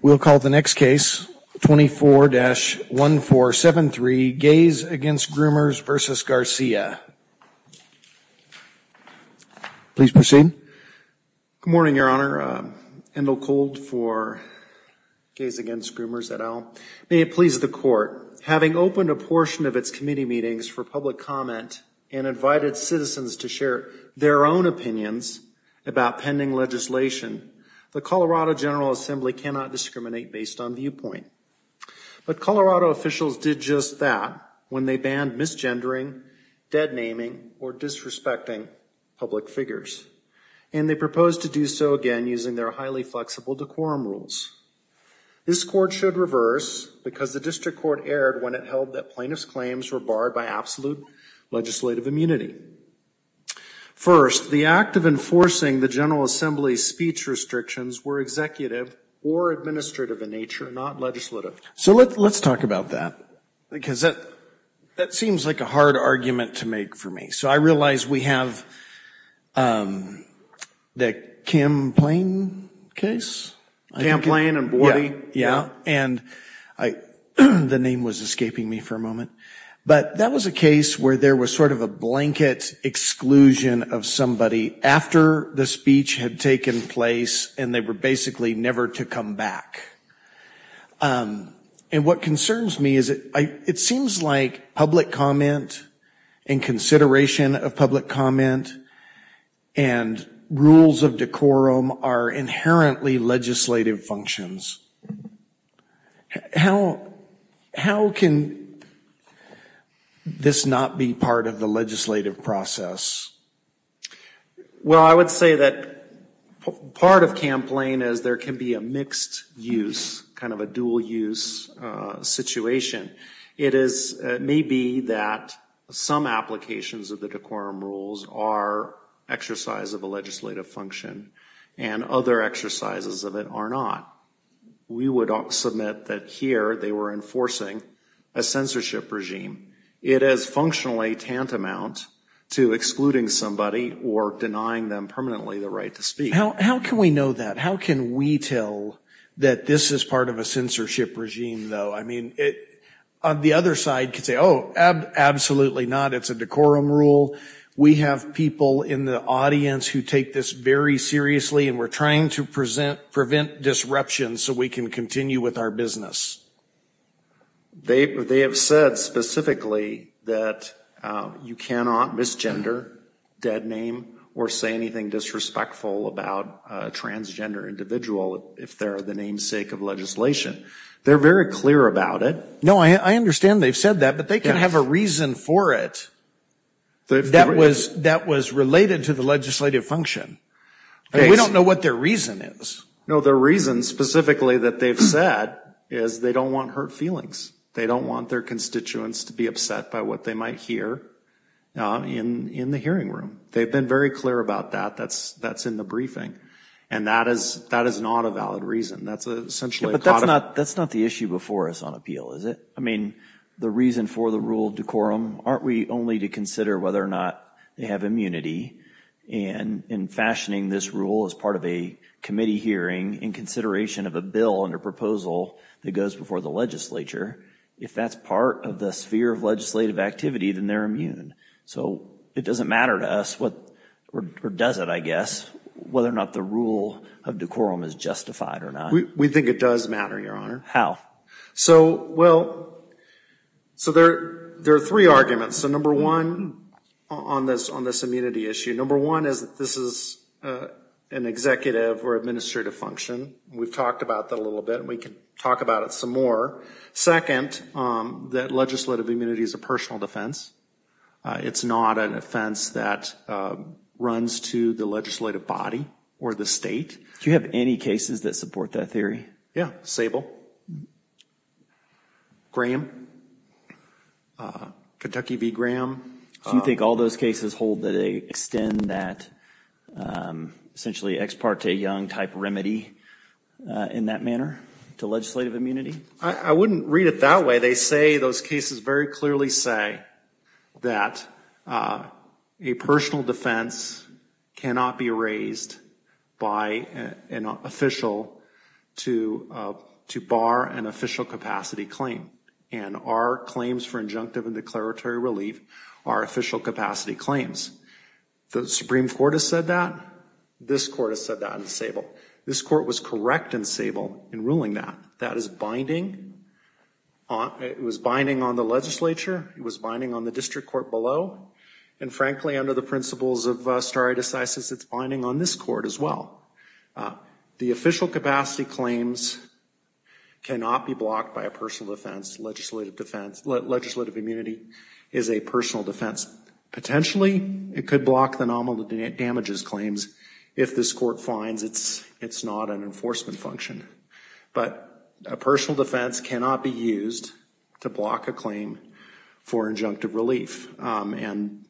We'll call the next case, 24-1473, Gays Against Groomers v. Garcia. Please proceed. Good morning, Your Honor. Endel Kold for Gays Against Groomers et al. May it please the Court, having opened a portion of its committee meetings for public comment and invited citizens to share their own opinions about pending legislation, the Colorado General Assembly cannot discriminate based on viewpoint. But Colorado officials did just that when they banned misgendering, deadnaming, or disrespecting public figures. And they proposed to do so again using their highly flexible decorum rules. This Court should reverse, because the District Court erred when it held that plaintiffs' claims were barred by absolute legislative immunity. First, the act of enforcing the General Assembly's speech restrictions were executive or administrative in nature, not legislative. So let's talk about that, because that seems like a hard argument to make for me. So I realize we have the Kim Plain case? Kim Plain and Borty. Yeah, and the name was escaping me for a moment. But that was a case where there was sort of a blanket exclusion of somebody after the speech had taken place, and they were basically never to come back. And what concerns me is it seems like public comment and consideration of public comment and rules of decorum are inherently legislative functions. How can this not be part of the legislative process? Well, I would say that part of Kim Plain is there can be a mixed use, kind of a dual use situation. It may be that some applications of the decorum rules are exercise of a legislative function, and other exercises of it are not. We would submit that here they were enforcing a censorship regime. It is functionally tantamount to excluding somebody or denying them permanently the right to speak. How can we know that? How can we tell that this is part of a censorship regime, though? I mean, the other side could say, oh, absolutely not. It's a decorum rule. We have people in the audience who take this very seriously, and we're trying to prevent disruption so we can continue with our business. They have said specifically that you cannot misgender, dead name, or say anything disrespectful about a transgender individual if they're the namesake of legislation. They're very clear about it. No, I understand they've said that, but they can have a reason for it that was related to the legislative function. We don't know what their reason is. No, their reason specifically that they've said is they don't want hurt feelings. They don't want their constituents to be upset by what they might hear in the hearing room. They've been very clear about that. That's in the briefing, and that is not a valid reason. That's essentially a codified— But that's not the issue before us on appeal, is it? I mean, the reason for the rule decorum, aren't we only to consider whether or not they have immunity? And in fashioning this rule as part of a committee hearing, in consideration of a bill and a proposal that goes before the legislature, if that's part of the sphere of legislative activity, then they're immune. So it doesn't matter to us, or does it, I guess, whether or not the rule of decorum is justified or not. We think it does matter, Your Honor. How? So, well, there are three arguments. So number one on this immunity issue, number one is that this is an executive or administrative function. We've talked about that a little bit, and we can talk about it some more. Second, that legislative immunity is a personal defense. It's not an offense that runs to the legislative body or the state. Do you have any cases that support that theory? Yeah, Sable, Graham, Kentucky v. Graham. Do you think all those cases hold that they extend that essentially ex parte young type remedy in that manner to legislative immunity? I wouldn't read it that way. They say those cases very clearly say that a personal defense cannot be raised by an official to bar an official capacity claim. And our claims for injunctive and declaratory relief are official capacity claims. The Supreme Court has said that. This court has said that in Sable. This court was correct in Sable in ruling that. That is binding. It was binding on the legislature. It was binding on the district court below. And frankly, under the principles of stare decisis, it's binding on this court as well. The official capacity claims cannot be blocked by a personal defense. Legislative defense, legislative immunity is a personal defense. Potentially, it could block the nominal damages claims if this court finds it's not an enforcement function. But a personal defense cannot be used to block a claim for injunctive relief. And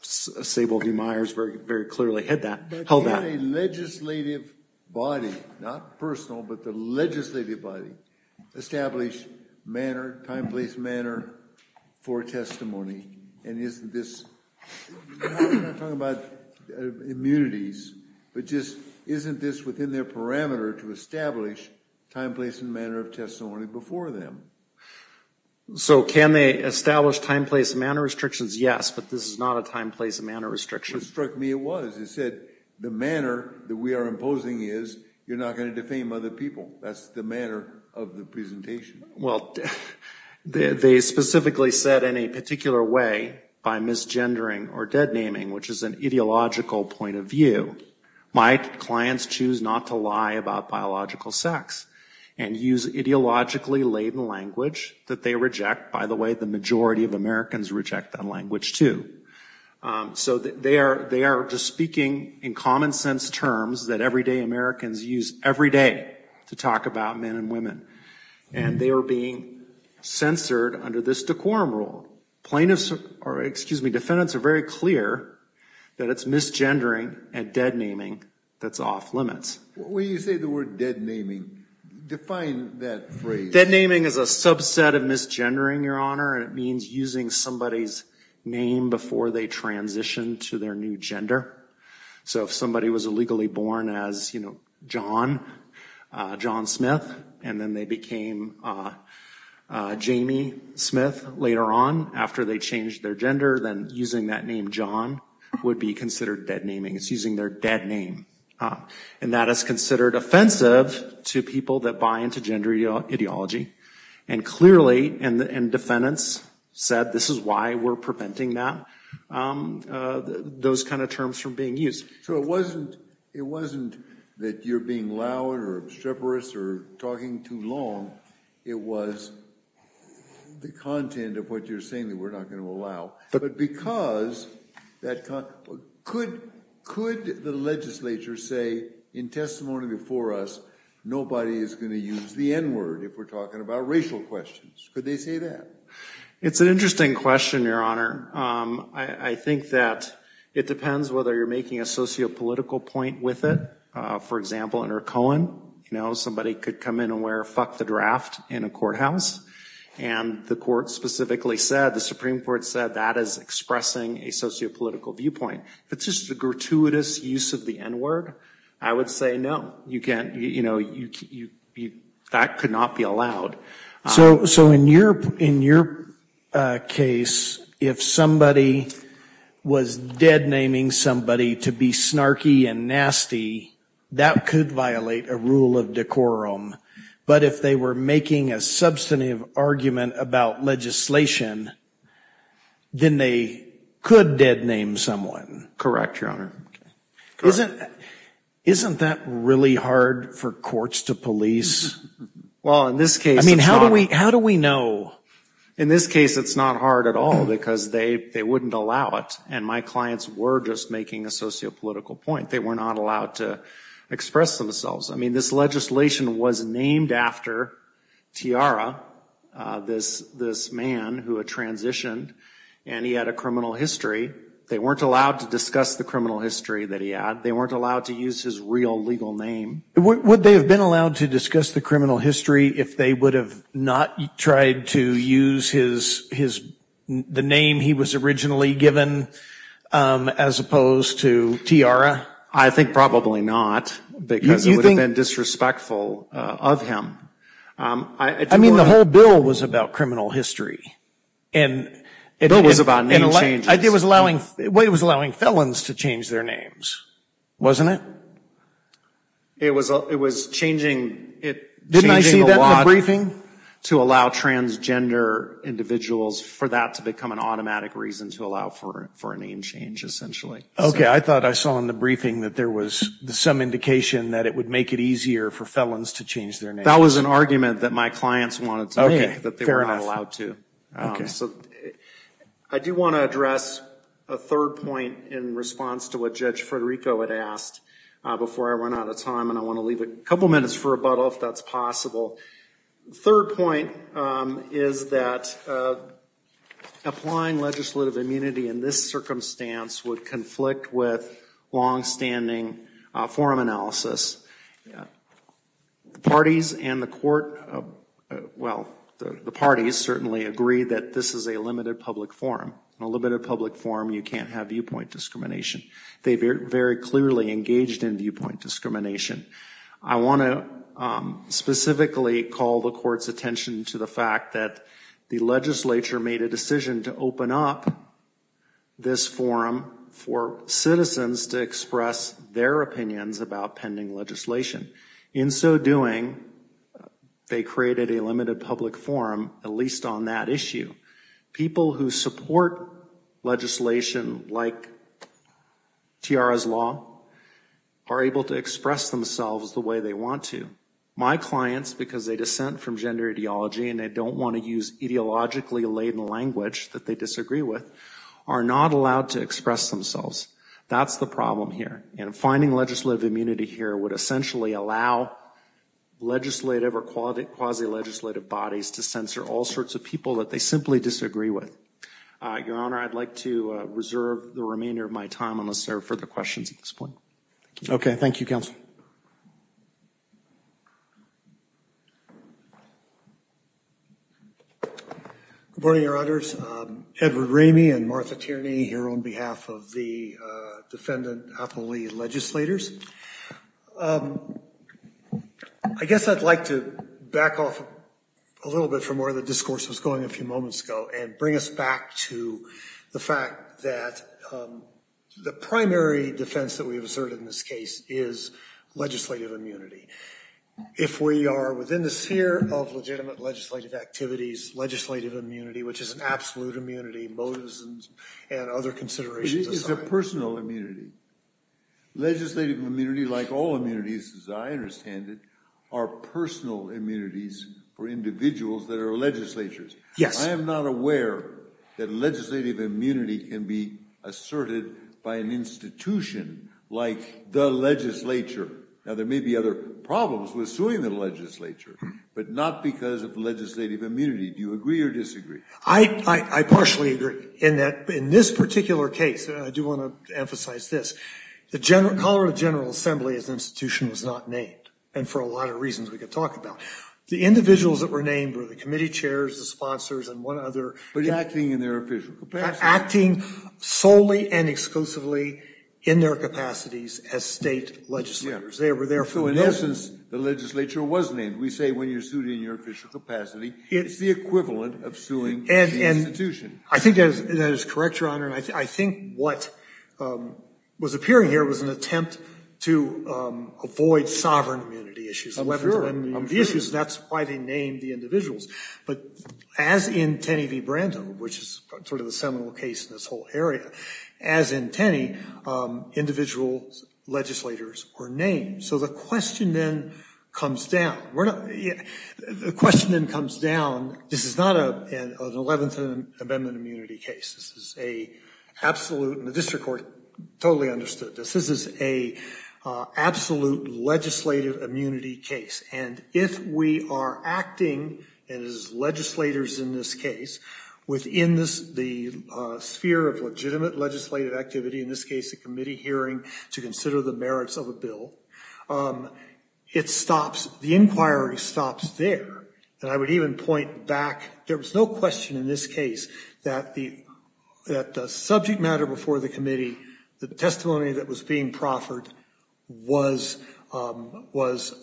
Sable v. Myers very clearly held that. But can a legislative body, not personal, but the legislative body, establish manner, time, place, manner for testimony? And isn't this, I'm not talking about immunities, but just isn't this within their parameter to establish time, place, and manner of testimony before them? So can they establish time, place, and manner restrictions? Yes. But this is not a time, place, and manner restriction. It struck me it was. It said the manner that we are imposing is you're not going to defame other people. That's the manner of the presentation. Well, they specifically said in a particular way by misgendering or dead naming, which is an ideological point of view, my clients choose not to lie about biological sex and use ideologically laden language that they reject. By the way, the majority of Americans reject that language too. So they are just speaking in common sense terms that everyday Americans use every day to talk about men and women. And they are being censored under this decorum rule. Plaintiffs or, excuse me, defendants are very clear that it's misgendering and dead naming that's off limits. When you say the word dead naming, define that phrase. Dead naming is a subset of misgendering, Your Honor. It means using somebody's name before they transition to their new gender. So if somebody was illegally born as, you know, John, John Smith, and then they became Jamie Smith later on, after they changed their gender, then using that name John would be considered dead naming. It's using their dead name. And that is considered offensive to people that buy into gender ideology. And clearly, and defendants said this is why we're preventing that, those kind of terms from being used. So it wasn't that you're being loud or obstreperous or talking too long. It was the content of what you're saying that we're not going to allow. But because that could, could the legislature say in testimony before us, nobody is going to use the N word if we're talking about racial questions. Could they say that? It's an interesting question, Your Honor. I think that it depends whether you're making a sociopolitical point with it. For example, under Cohen, you know, somebody could come in and wear fuck the draft in a courthouse. And the court specifically said, the Supreme Court said that is expressing a sociopolitical viewpoint. If it's just a gratuitous use of the N word, I would say no. You can't, you know, that could not be allowed. So in your case, if somebody was dead naming somebody to be snarky and nasty, that could violate a rule of decorum. But if they were making a substantive argument about legislation, then they could dead name someone. Correct, Your Honor. Isn't that really hard for courts to police? Well, in this case, it's not. I mean, how do we know? In this case, it's not hard at all because they wouldn't allow it. And my clients were just making a sociopolitical point. They were not allowed to express themselves. I mean, this legislation was named after Tiara, this man who had transitioned, and he had a criminal history. They weren't allowed to discuss the criminal history that he had. They weren't allowed to use his real legal name. Would they have been allowed to discuss the criminal history if they would have not tried to use his, the name he was originally given as opposed to Tiara? I think probably not because it would have been disrespectful of him. I mean, the whole bill was about criminal history. The bill was about name changes. It was allowing felons to change their names, wasn't it? It was changing a lot. Didn't I see that in the briefing? To allow transgender individuals for that to become an automatic reason to allow for a name change, essentially. Okay, I thought I saw in the briefing that there was some indication that it would make it easier for felons to change their names. That was an argument that my clients wanted to make, that they were not allowed to. Okay, fair enough. I do want to address a third point in response to what Judge Federico had asked before I run out of time, and I want to leave a couple minutes for rebuttal if that's possible. The third point is that applying legislative immunity in this circumstance would conflict with longstanding forum analysis. The parties and the court, well, the parties certainly agree that this is a limited public forum. In a limited public forum, you can't have viewpoint discrimination. They very clearly engaged in viewpoint discrimination. I want to specifically call the court's attention to the fact that the legislature made a decision to open up this forum for citizens to express their opinions about pending legislation. In so doing, they created a limited public forum, at least on that issue. People who support legislation like Tiara's law are able to express themselves the way they want to. My clients, because they dissent from gender ideology and they don't want to use ideologically laden language that they disagree with, are not allowed to express themselves. That's the problem here, and finding legislative immunity here would essentially allow legislative or quasi-legislative bodies to censor all sorts of people that they simply disagree with. Your Honor, I'd like to reserve the remainder of my time unless there are further questions at this point. Thank you. Okay, thank you, Counsel. Good morning, Your Honors. Edward Ramey and Martha Tierney here on behalf of the defendant-athlete legislators. I guess I'd like to back off a little bit from where the discourse was going a few moments ago and bring us back to the fact that the primary defense that we have asserted in this case is legislative immunity. If we are within the sphere of legitimate legislative activities, legislative immunity, which is an absolute immunity, motives and other considerations aside. It is a personal immunity. Legislative immunity, like all immunities as I understand it, are personal immunities for individuals that are legislators. Yes. I am not aware that legislative immunity can be asserted by an institution like the legislature. Now, there may be other problems with suing the legislature, but not because of legislative immunity. Do you agree or disagree? I partially agree in that in this particular case, and I do want to emphasize this, the Colorado General Assembly as an institution was not named. And for a lot of reasons we could talk about. The individuals that were named were the committee chairs, the sponsors, and one other. But acting in their official capacity. Acting solely and exclusively in their capacities as state legislators. So in essence, the legislature was named. We say when you are sued in your official capacity, it's the equivalent of suing the institution. I think that is correct, Your Honor. And I think what was appearing here was an attempt to avoid sovereign immunity issues. I'm sure. That's why they named the individuals. But as in Tenney v. Brando, which is sort of the seminal case in this whole area, as in Tenney, individual legislators were named. So the question then comes down. The question then comes down, this is not an 11th Amendment immunity case. This is an absolute, and the district court totally understood this, this is an absolute legislative immunity case. And if we are acting as legislators in this case, within the sphere of legitimate legislative activity, in this case a committee hearing to consider the merits of a bill, it stops, the inquiry stops there. And I would even point back, there was no question in this case that the subject matter before the committee, the testimony that was being proffered, was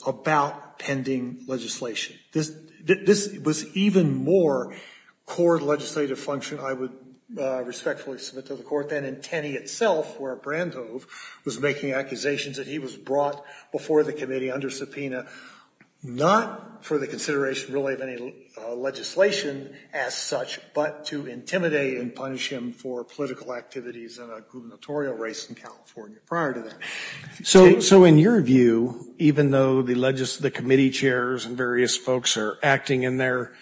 about pending legislation. This was even more core legislative function, I would respectfully submit to the court then, in Tenney itself, where Brando was making accusations that he was brought before the committee under subpoena, not for the consideration really of any legislation as such, but to intimidate and punish him for political activities in a gubernatorial race in California prior to that. So in your view, even though the committee chairs and various folks are acting in their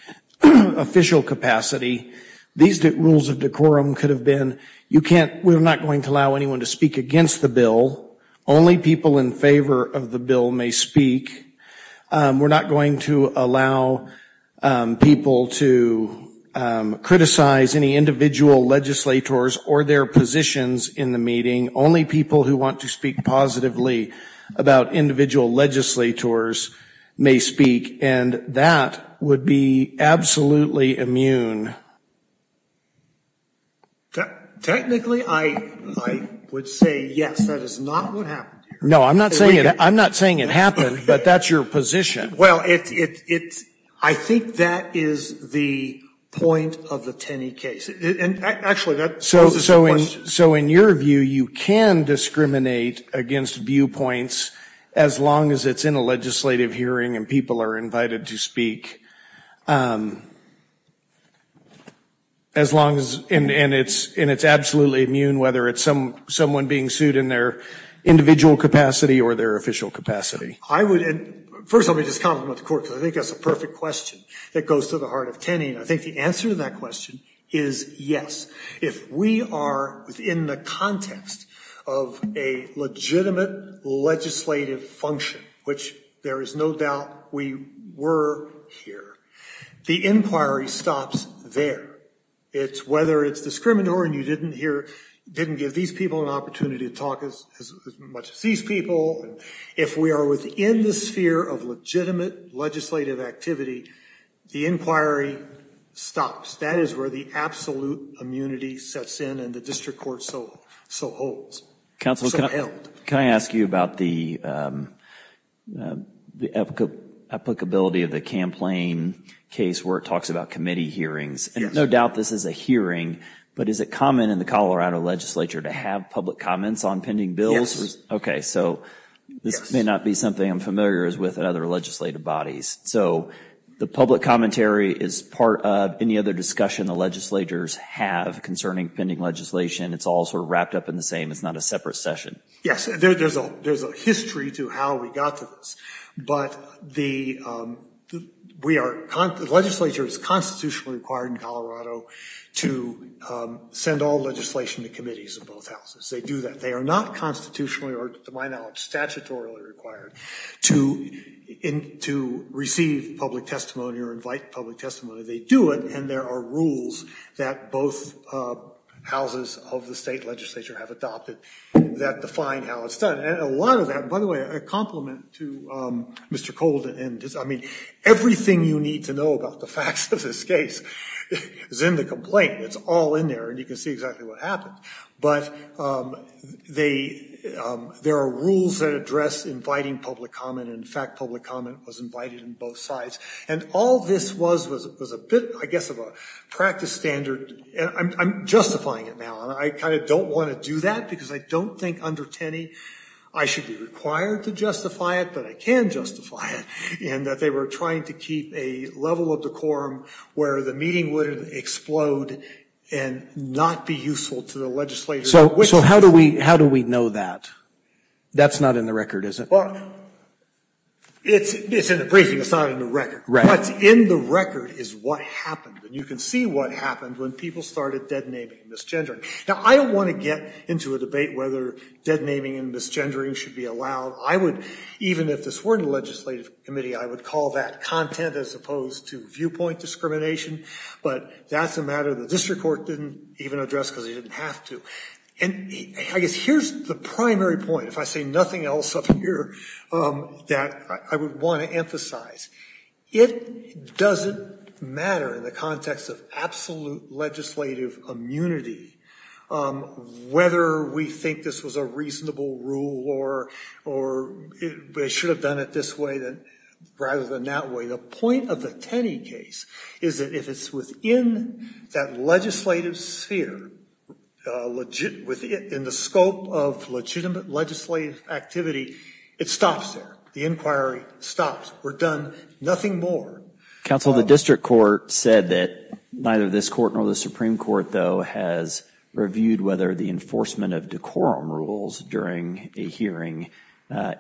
official capacity, these rules of decorum could have been, we're not going to allow anyone to speak against the bill, only people in favor of the bill may speak. We're not going to allow people to criticize any individual legislators or their positions in the meeting. Only people who want to speak positively about individual legislators may speak, and that would be absolutely immune. Technically, I would say yes, that is not what happened here. No, I'm not saying it happened, but that's your position. Well, I think that is the point of the Tenney case. And actually, that poses a question. So in your view, you can discriminate against viewpoints as long as it's in a legislative hearing and people are invited to speak, and it's absolutely immune, whether it's someone being sued in their individual capacity or their official capacity. First, let me just comment about the court, because I think that's a perfect question that goes to the heart of Tenney. I think the answer to that question is yes. If we are within the context of a legitimate legislative function, which there is no doubt we were here, the inquiry stops there. It's whether it's discriminatory and you didn't give these people an opportunity to talk as much as these people. If we are within the sphere of legitimate legislative activity, the inquiry stops. That is where the absolute immunity sets in and the district court so holds. Counsel, can I ask you about the applicability of the campaign case where it talks about committee hearings? No doubt this is a hearing, but is it common in the Colorado legislature to have public comments on pending bills? Yes. Okay, so this may not be something I'm familiar with in other legislative bodies. So the public commentary is part of any other discussion the legislators have concerning pending legislation. It's all sort of wrapped up in the same. It's not a separate session. Yes, there's a history to how we got to this. But the legislature is constitutionally required in Colorado to send all legislation to committees in both houses. They do that. They are not constitutionally or, to my knowledge, statutorily required to receive public testimony or invite public testimony. They do it and there are rules that both houses of the state legislature have adopted that define how it's done. And a lot of that, by the way, a compliment to Mr. Colden. I mean, everything you need to know about the facts of this case is in the complaint. It's all in there and you can see exactly what happened. But there are rules that address inviting public comment. In fact, public comment was invited in both sides. And all this was was a bit, I guess, of a practice standard. I'm justifying it now. I kind of don't want to do that because I don't think under Tenney I should be required to justify it, but I can justify it. And that they were trying to keep a level of decorum where the meeting would explode and not be useful to the legislature. So how do we know that? That's not in the record, is it? Well, it's in the briefing. It's not in the record. What's in the record is what happened. And you can see what happened when people started deadnaming and misgendering. Now, I don't want to get into a debate whether deadnaming and misgendering should be allowed. I would, even if this weren't a legislative committee, I would call that content as opposed to viewpoint discrimination. But that's a matter the district court didn't even address because they didn't have to. And I guess here's the primary point, if I say nothing else up here, that I would want to emphasize. It doesn't matter in the context of absolute legislative immunity whether we think this was a reasonable rule or they should have done it this way rather than that way. The point of the Tenney case is that if it's within that legislative sphere, in the scope of legitimate legislative activity, it stops there. The inquiry stops. We're done. Nothing more. Counsel, the district court said that neither this court nor the Supreme Court, though, has reviewed whether the enforcement of decorum rules during a hearing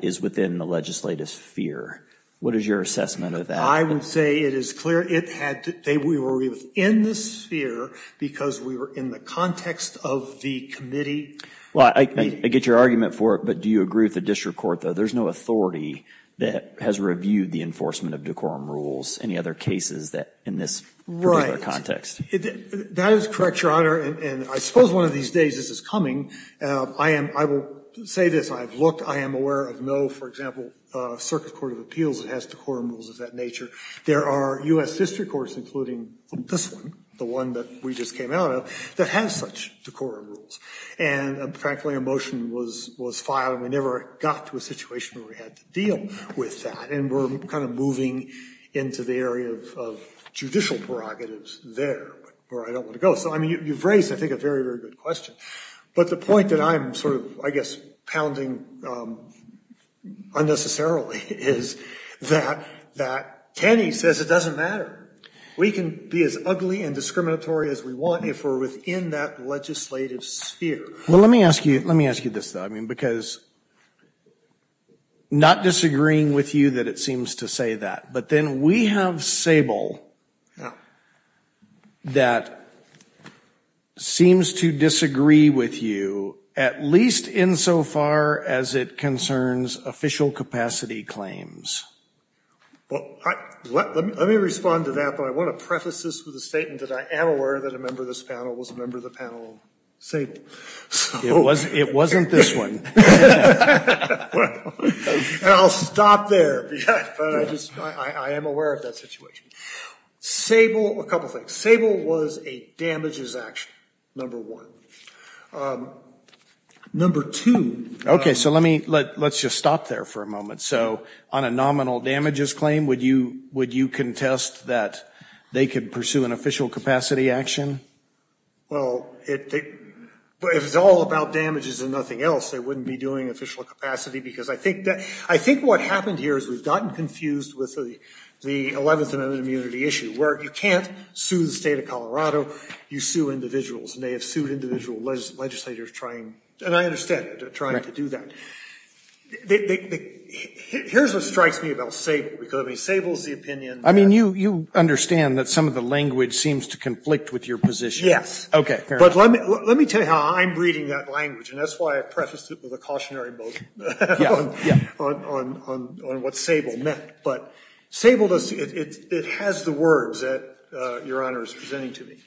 is within the legislative sphere. What is your assessment of that? I would say it is clear it had to be within the sphere because we were in the context of the committee. I get your argument for it, but do you agree with the district court, though? There's no authority that has reviewed the enforcement of decorum rules. Any other cases in this particular context? That is correct, Your Honor. And I suppose one of these days this is coming. I will say this. I have looked. I am aware of no, for example, circuit court of appeals that has decorum rules of that nature. There are U.S. district courts, including this one, the one that we just came out of, that has such decorum rules. And, frankly, a motion was filed, and we never got to a situation where we had to deal with that. And we're kind of moving into the area of judicial prerogatives there, where I don't want to go. So, I mean, you've raised, I think, a very, very good question. But the point that I'm sort of, I guess, pounding unnecessarily is that Kenny says it doesn't matter. We can be as ugly and discriminatory as we want if we're within that legislative sphere. Well, let me ask you this, though. I mean, because not disagreeing with you that it seems to say that. But then we have Sable that seems to disagree with you, at least insofar as it concerns official capacity claims. Well, let me respond to that. But I want to preface this with a statement that I am aware that a member of this panel was a member of the panel of Sable. It wasn't this one. And I'll stop there. But I am aware of that situation. Sable, a couple things. Sable was a damages action, number one. Number two. Okay, so let's just stop there for a moment. So on a nominal damages claim, would you contest that they could pursue an official capacity action? Well, if it's all about damages and nothing else, they wouldn't be doing official capacity. Because I think what happened here is we've gotten confused with the 11th Amendment immunity issue, where you can't sue the state of Colorado, you sue individuals. And they have sued individual legislators trying, and I understand, trying to do that. Here's what strikes me about Sable. Because, I mean, Sable's the opinion. I mean, you understand that some of the language seems to conflict with your position. Yes. Okay. But let me tell you how I'm reading that language. And that's why I prefaced it with a cautionary note on what Sable meant. But Sable, it has the words that Your Honor is presenting to me.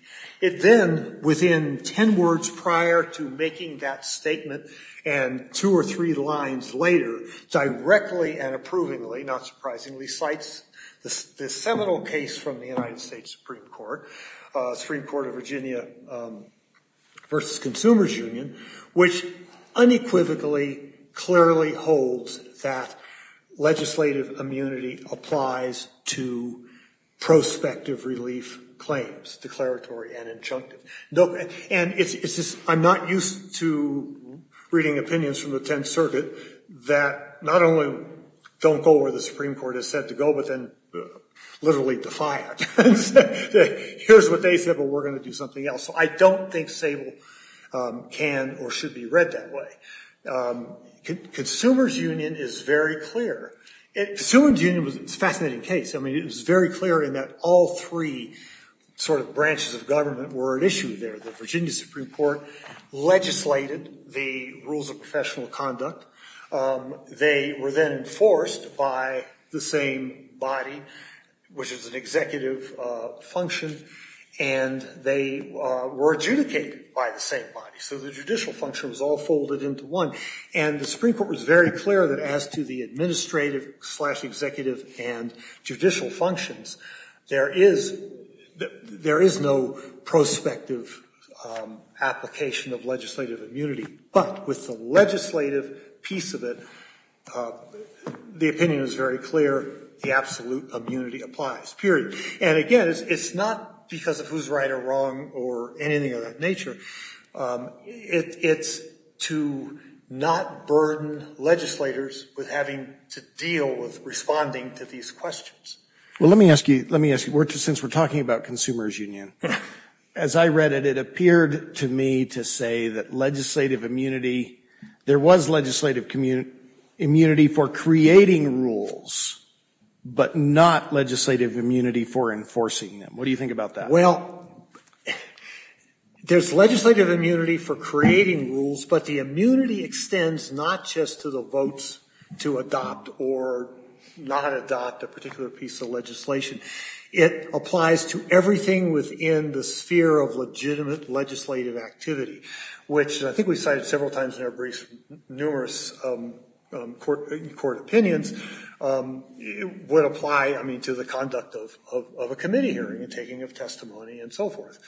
It then, within ten words prior to making that statement, and two or three lines later, directly and approvingly, not surprisingly, cites the seminal case from the United States Supreme Court, Supreme Court of Virginia versus Consumers Union, which unequivocally, clearly holds that legislative immunity applies to prospective relief claims, declaratory and injunctive. And I'm not used to reading opinions from the Tenth Circuit that not only don't go where the Supreme Court has said to go, but then literally defy it. Here's what they said, but we're going to do something else. So I don't think Sable can or should be read that way. Consumers Union is very clear. Consumers Union was a fascinating case. I mean, it was very clear in that all three sort of branches of government were at issue there. The Virginia Supreme Court legislated the rules of professional conduct. They were then enforced by the same body, which is an executive function, and they were adjudicated by the same body. So the judicial function was all folded into one. And the Supreme Court was very clear that as to the administrative slash executive and judicial functions, there is no prospective application of legislative immunity. But with the legislative piece of it, the opinion is very clear, the absolute immunity applies, period. And, again, it's not because of who's right or wrong or anything of that nature. It's to not burden legislators with having to deal with responding to these questions. Well, let me ask you, since we're talking about Consumers Union, as I read it, it appeared to me to say that legislative immunity, there was legislative immunity for creating rules, but not legislative immunity for enforcing them. What do you think about that? Well, there's legislative immunity for creating rules, but the immunity extends not just to the votes to adopt or not adopt a particular piece of legislation. It applies to everything within the sphere of legitimate legislative activity, which I think we cited several times in our briefs, numerous court opinions. It would apply, I mean, to the conduct of a committee hearing and taking of testimony and so forth.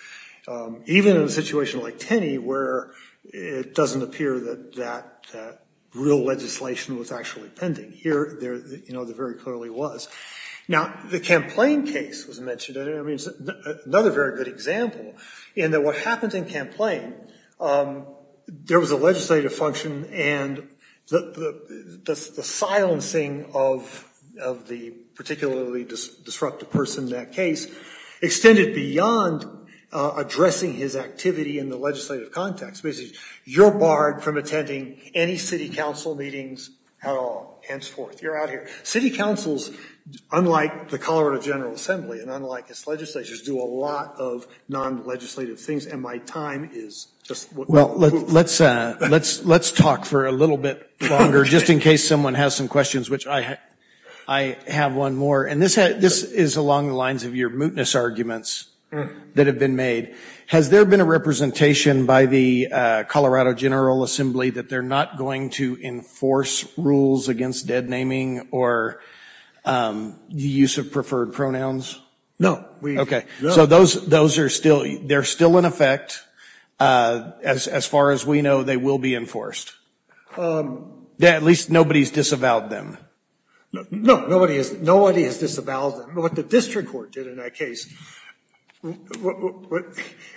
Even in a situation like Tenney where it doesn't appear that real legislation was actually pending. Here, you know, there very clearly was. Now, the Camplain case was mentioned. I mean, it's another very good example in that what happened in Camplain, there was a legislative function and the silencing of the particularly disruptive person in that case extended beyond addressing his activity in the legislative context. Basically, you're barred from attending any city council meetings at all, henceforth. You're out of here. City councils, unlike the Colorado General Assembly and unlike its legislators, do a lot of non-legislative things. And my time is just what we need. Well, let's talk for a little bit longer just in case someone has some questions, which I have one more. And this is along the lines of your mootness arguments that have been made. Has there been a representation by the Colorado General Assembly that they're not going to enforce rules against deadnaming or the use of preferred pronouns? No. Okay. So those are still in effect. As far as we know, they will be enforced. At least nobody has disavowed them. No, nobody has disavowed them. What the district court did in that case.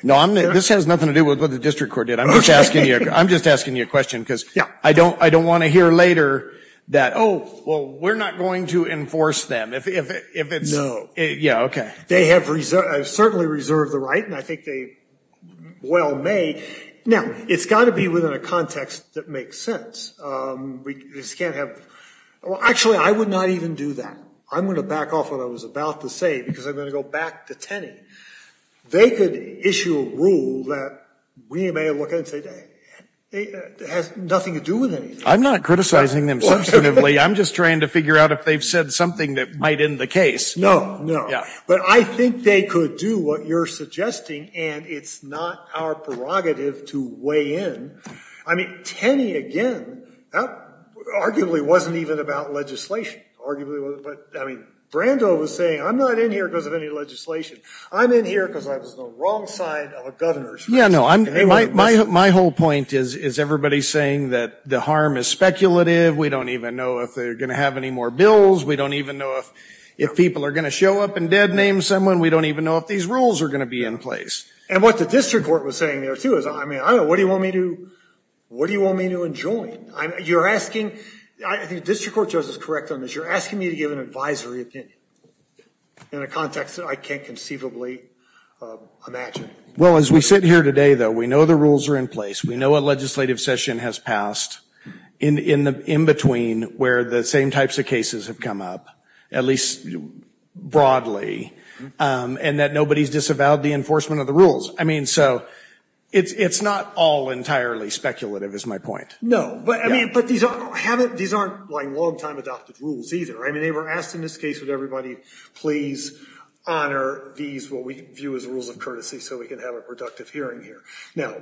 No, this has nothing to do with what the district court did. I'm just asking you a question because I don't want to hear later that, oh, well, we're not going to enforce them. No. Yeah, okay. They have certainly reserved the right, and I think they well may. Now, it's got to be within a context that makes sense. Actually, I would not even do that. I'm going to back off what I was about to say because I'm going to go back to Tenney. They could issue a rule that we may look at and say it has nothing to do with anything. I'm not criticizing them substantively. I'm just trying to figure out if they've said something that might end the case. No, no. Yeah. But I think they could do what you're suggesting, and it's not our prerogative to weigh in. I mean, Tenney, again, that arguably wasn't even about legislation. Arguably, but, I mean, Brando was saying, I'm not in here because of any legislation. I'm in here because I was on the wrong side of a governor's. Yeah, no. My whole point is everybody's saying that the harm is speculative. We don't even know if they're going to have any more bills. We don't even know if people are going to show up and dead name someone. We don't even know if these rules are going to be in place. And what the district court was saying there, too, is, I mean, what do you want me to enjoin? You're asking, I think the district court judge is correct on this. But you're asking me to give an advisory opinion in a context that I can't conceivably imagine. Well, as we sit here today, though, we know the rules are in place. We know a legislative session has passed in between where the same types of cases have come up, at least broadly, and that nobody's disavowed the enforcement of the rules. I mean, so it's not all entirely speculative is my point. No, but I mean, but these aren't long-time adopted rules either. I mean, they were asked in this case, would everybody please honor these, what we view as rules of courtesy, so we can have a productive hearing here. Now,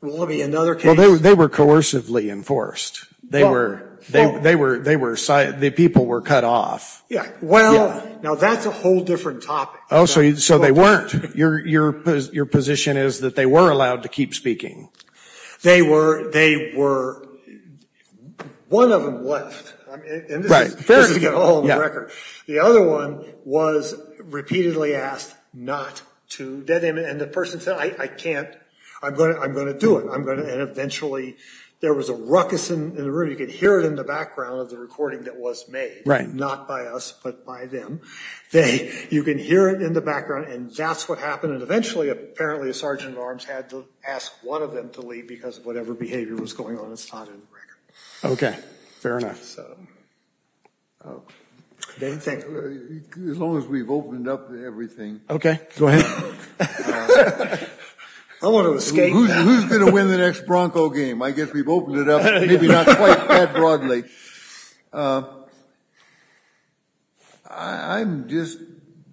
will there be another case? Well, they were coercively enforced. They were, the people were cut off. Yeah, well, now that's a whole different topic. Oh, so they weren't. Your position is that they were allowed to keep speaking. They were, they were, one of them left, and this is to get it all on the record. The other one was repeatedly asked not to, and the person said, I can't, I'm going to do it, and eventually there was a ruckus in the room. You could hear it in the background of the recording that was made, not by us, but by them. You can hear it in the background, and that's what happened, and eventually apparently a sergeant at arms had to ask one of them to leave because of whatever behavior was going on, and it's not in the record. Okay, fair enough. As long as we've opened up everything. Okay, go ahead. I want to escape. Who's going to win the next Bronco game? I guess we've opened it up, maybe not quite that broadly. Okay. I'm just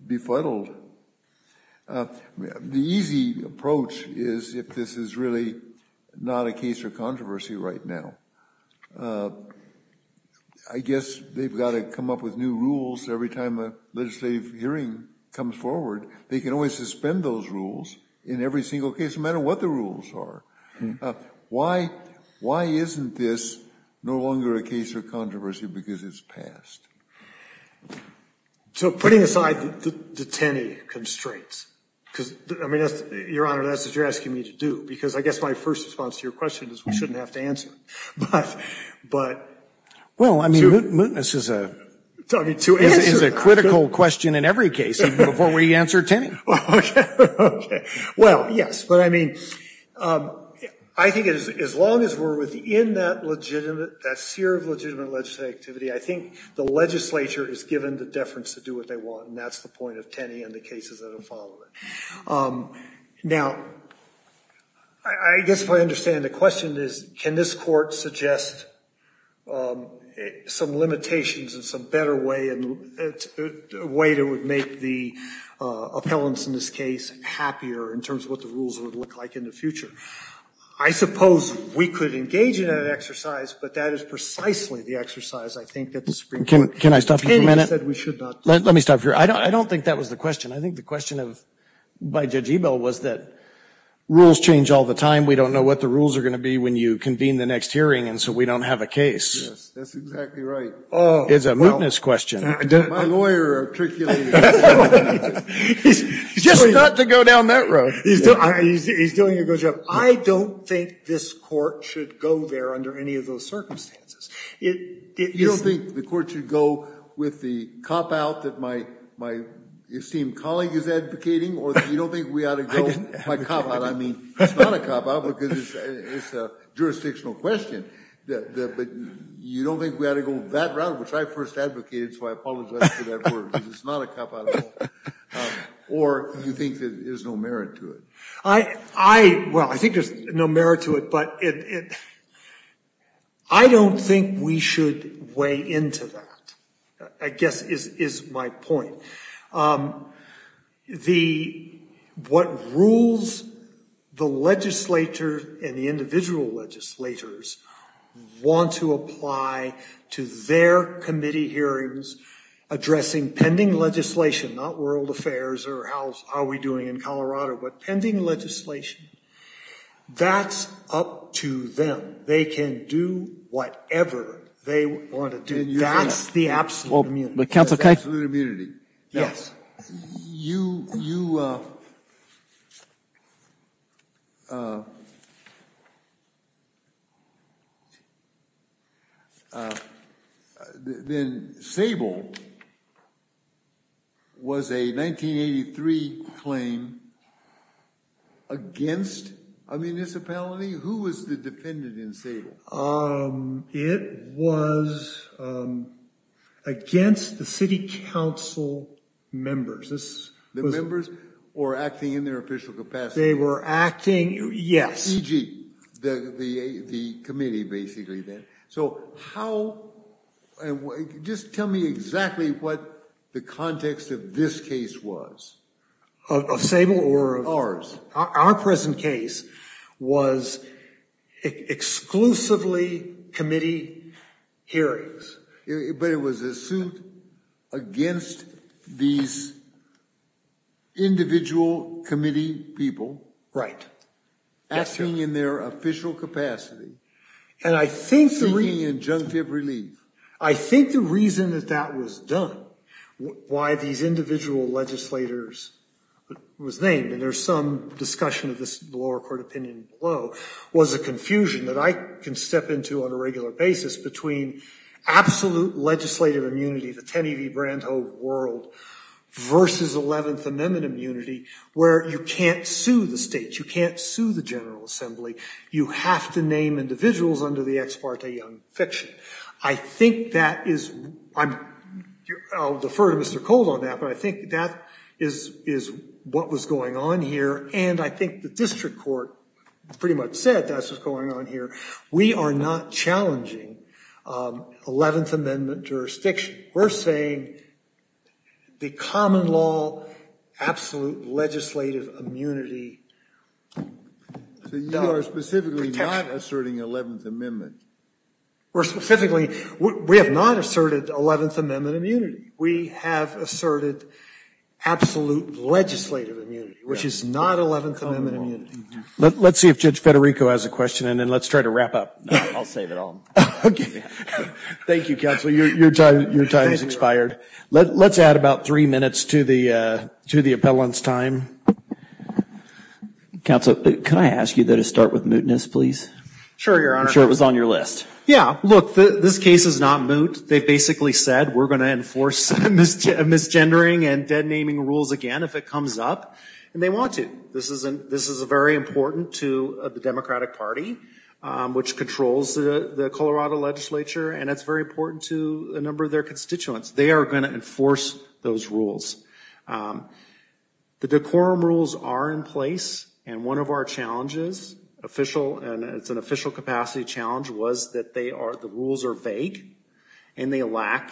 befuddled. The easy approach is if this is really not a case of controversy right now. I guess they've got to come up with new rules every time a legislative hearing comes forward. They can always suspend those rules in every single case, no matter what the rules are. Why isn't this no longer a case of controversy because it's passed? Putting aside the Tenney constraints, because, Your Honor, that's what you're asking me to do, because I guess my first response to your question is we shouldn't have to answer it. Well, I mean, mootness is a critical question in every case, even before we answer Tenney. Okay. Well, yes, but I mean, I think as long as we're within that seer of legitimate legislative activity, I think the legislature is given the deference to do what they want, and that's the point of Tenney and the cases that have followed it. Now, I guess if I understand the question is, can this court suggest some limitations and some better way to make the appellants in this case happier in terms of what the rules would look like in the future? I suppose we could engage in that exercise, but that is precisely the exercise I think that the Supreme Court Tenney said we should not do. Let me stop you. I don't think that was the question. I think the question by Judge Ebel was that rules change all the time. We don't know what the rules are going to be when you convene the next hearing, and so we don't have a case. Yes, that's exactly right. It's a mootness question. My lawyer articulated it. Just not to go down that road. He's doing a good job. I don't think this court should go there under any of those circumstances. You don't think the court should go with the cop-out that my esteemed colleague is advocating, or you don't think we ought to go by cop-out? I mean, it's not a cop-out because it's a jurisdictional question, but you don't think we ought to go that route, which I first advocated, so I apologize for that word because it's not a cop-out at all, or you think that there's no merit to it? Well, I think there's no merit to it, but I don't think we should weigh into that, I guess is my point. What rules the legislature and the individual legislators want to apply to their committee hearings addressing pending legislation, not world affairs or how are we doing in Colorado, but pending legislation, that's up to them. They can do whatever they want to do. That's the absolute immunity. The absolute immunity. Yes. You, then Sable was a 1983 claim against a municipality? Who was the dependent in Sable? It was against the city council members. The members were acting in their official capacity? They were acting, yes. E.g., the committee basically then. So how, just tell me exactly what the context of this case was. Of Sable? Ours. Our present case was exclusively committee hearings. But it was a suit against these individual committee people? Right. Acting in their official capacity, seeking injunctive relief. I think the reason that that was done, why these individual legislators was named, and there's some discussion of this in the lower court opinion below, was a confusion that I can step into on a regular basis between absolute legislative immunity, the Tenney v. Brandhove world, versus 11th Amendment immunity where you can't sue the states. You can't sue the General Assembly. You have to name individuals under the ex parte young fiction. I think that is, I'll defer to Mr. Cole on that, but I think that is what was going on here. And I think the district court pretty much said that's what's going on here. We are not challenging 11th Amendment jurisdiction. We're saying the common law absolute legislative immunity. So you are specifically not asserting 11th Amendment? We're specifically, we have not asserted 11th Amendment immunity. We have asserted absolute legislative immunity, which is not 11th Amendment immunity. Let's see if Judge Federico has a question, and then let's try to wrap up. I'll save it all. Okay. Thank you, Counsel. Your time has expired. Let's add about three minutes to the appellant's time. Counsel, can I ask you to start with mootness, please? Sure, Your Honor. I'm sure it was on your list. Yeah, look, this case is not moot. They basically said we're going to enforce misgendering and dead naming rules again if it comes up, and they want to. This is very important to the Democratic Party, which controls the Colorado legislature, and it's very important to a number of their constituents. They are going to enforce those rules. The decorum rules are in place, and one of our challenges, and it's an official capacity challenge, was that the rules are vague, and they lack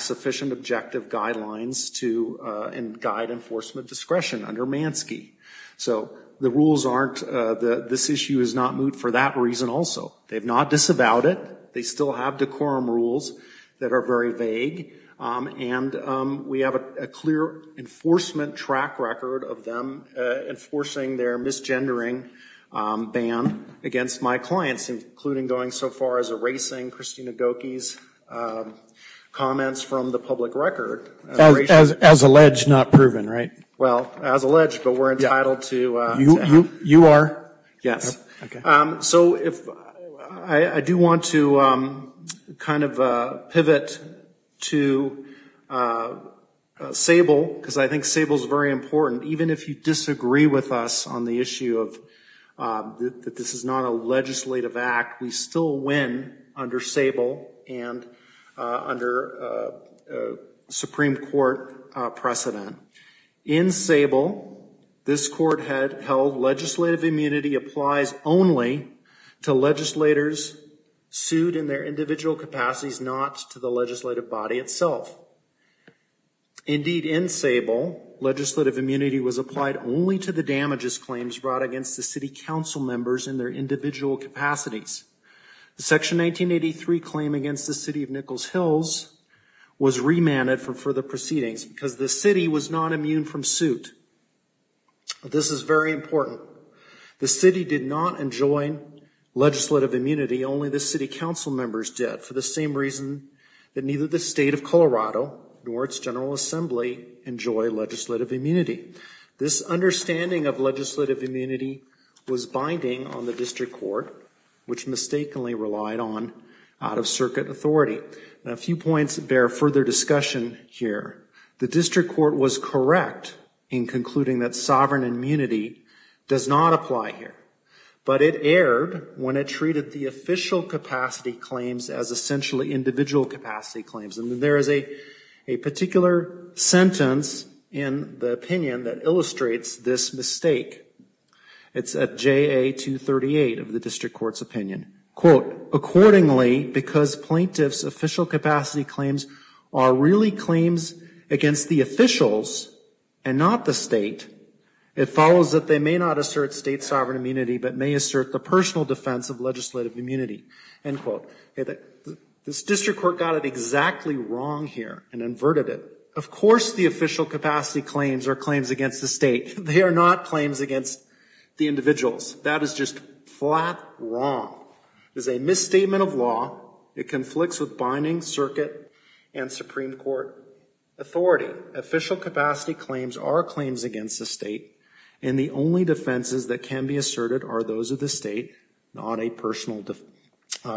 sufficient objective guidelines to guide enforcement discretion under Mansky. So the rules aren't, this issue is not moot for that reason also. They've not disavowed it. They still have decorum rules that are very vague, and we have a clear enforcement track record of them enforcing their misgendering ban against my clients, including going so far as erasing Christina Gokey's comments from the public record. As alleged, not proven, right? Well, as alleged, but we're entitled to. You are? Yes. Okay. So I do want to kind of pivot to Sable, because I think Sable is very important, even if you disagree with us on the issue of that this is not a legislative act, we still win under Sable and under Supreme Court precedent. In Sable, this court held legislative immunity applies only to legislators sued in their individual capacities, not to the legislative body itself. Indeed, in Sable, legislative immunity was applied only to the damages claims brought against the city council members in their individual capacities. The Section 1983 claim against the city of Nichols Hills was remanded for further proceedings, because the city was not immune from suit. This is very important. The city did not enjoin legislative immunity, only the city council members did, for the same reason that neither the state of Colorado nor its general assembly enjoy legislative immunity. This understanding of legislative immunity was binding on the district court, which mistakenly relied on out-of-circuit authority. A few points bear further discussion here. The district court was correct in concluding that sovereign immunity does not apply here, but it erred when it treated the official capacity claims as essentially individual capacity claims. And there is a particular sentence in the opinion that illustrates this mistake. It's at JA 238 of the district court's opinion. Quote, accordingly, because plaintiffs' official capacity claims are really claims against the officials and not the state, it follows that they may not assert state sovereign immunity, but may assert the personal defense of legislative immunity. End quote. This district court got it exactly wrong here and inverted it. Of course the official capacity claims are claims against the state. They are not claims against the individuals. That is just flat wrong. It is a misstatement of law. It conflicts with binding circuit and Supreme Court authority. Official capacity claims are claims against the state, and the only defenses that can be asserted are those of the state, not a personal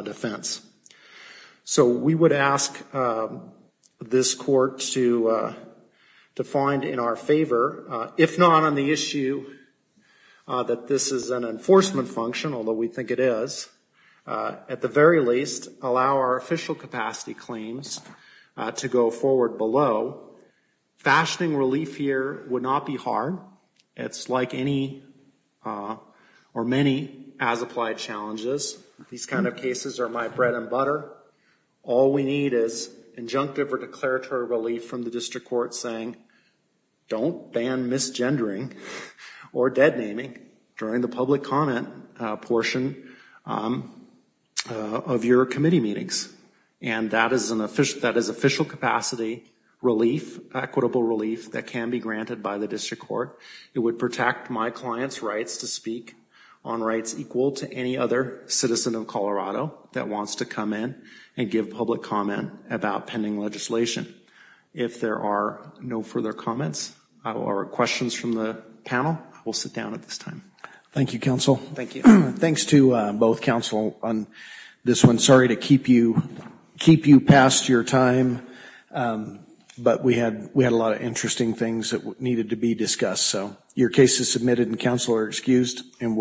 defense. So we would ask this court to find in our favor, if not on the issue that this is an enforcement function, although we think it is, at the very least, allow our official capacity claims to go forward below. Fashioning relief here would not be hard. It is like any or many as-applied challenges. These kind of cases are my bread and butter. All we need is injunctive or declaratory relief from the district court saying don't ban misgendering or deadnaming during the public comment portion of your committee meetings, and that is official capacity relief, equitable relief, that can be granted by the district court. It would protect my client's rights to speak on rights equal to any other citizen of Colorado that wants to come in and give public comment about pending legislation. If there are no further comments or questions from the panel, we'll sit down at this time. Thank you, counsel. Thank you. Thanks to both counsel on this one. Sorry to keep you past your time, but we had a lot of interesting things that needed to be discussed. Your case is submitted and counsel are excused.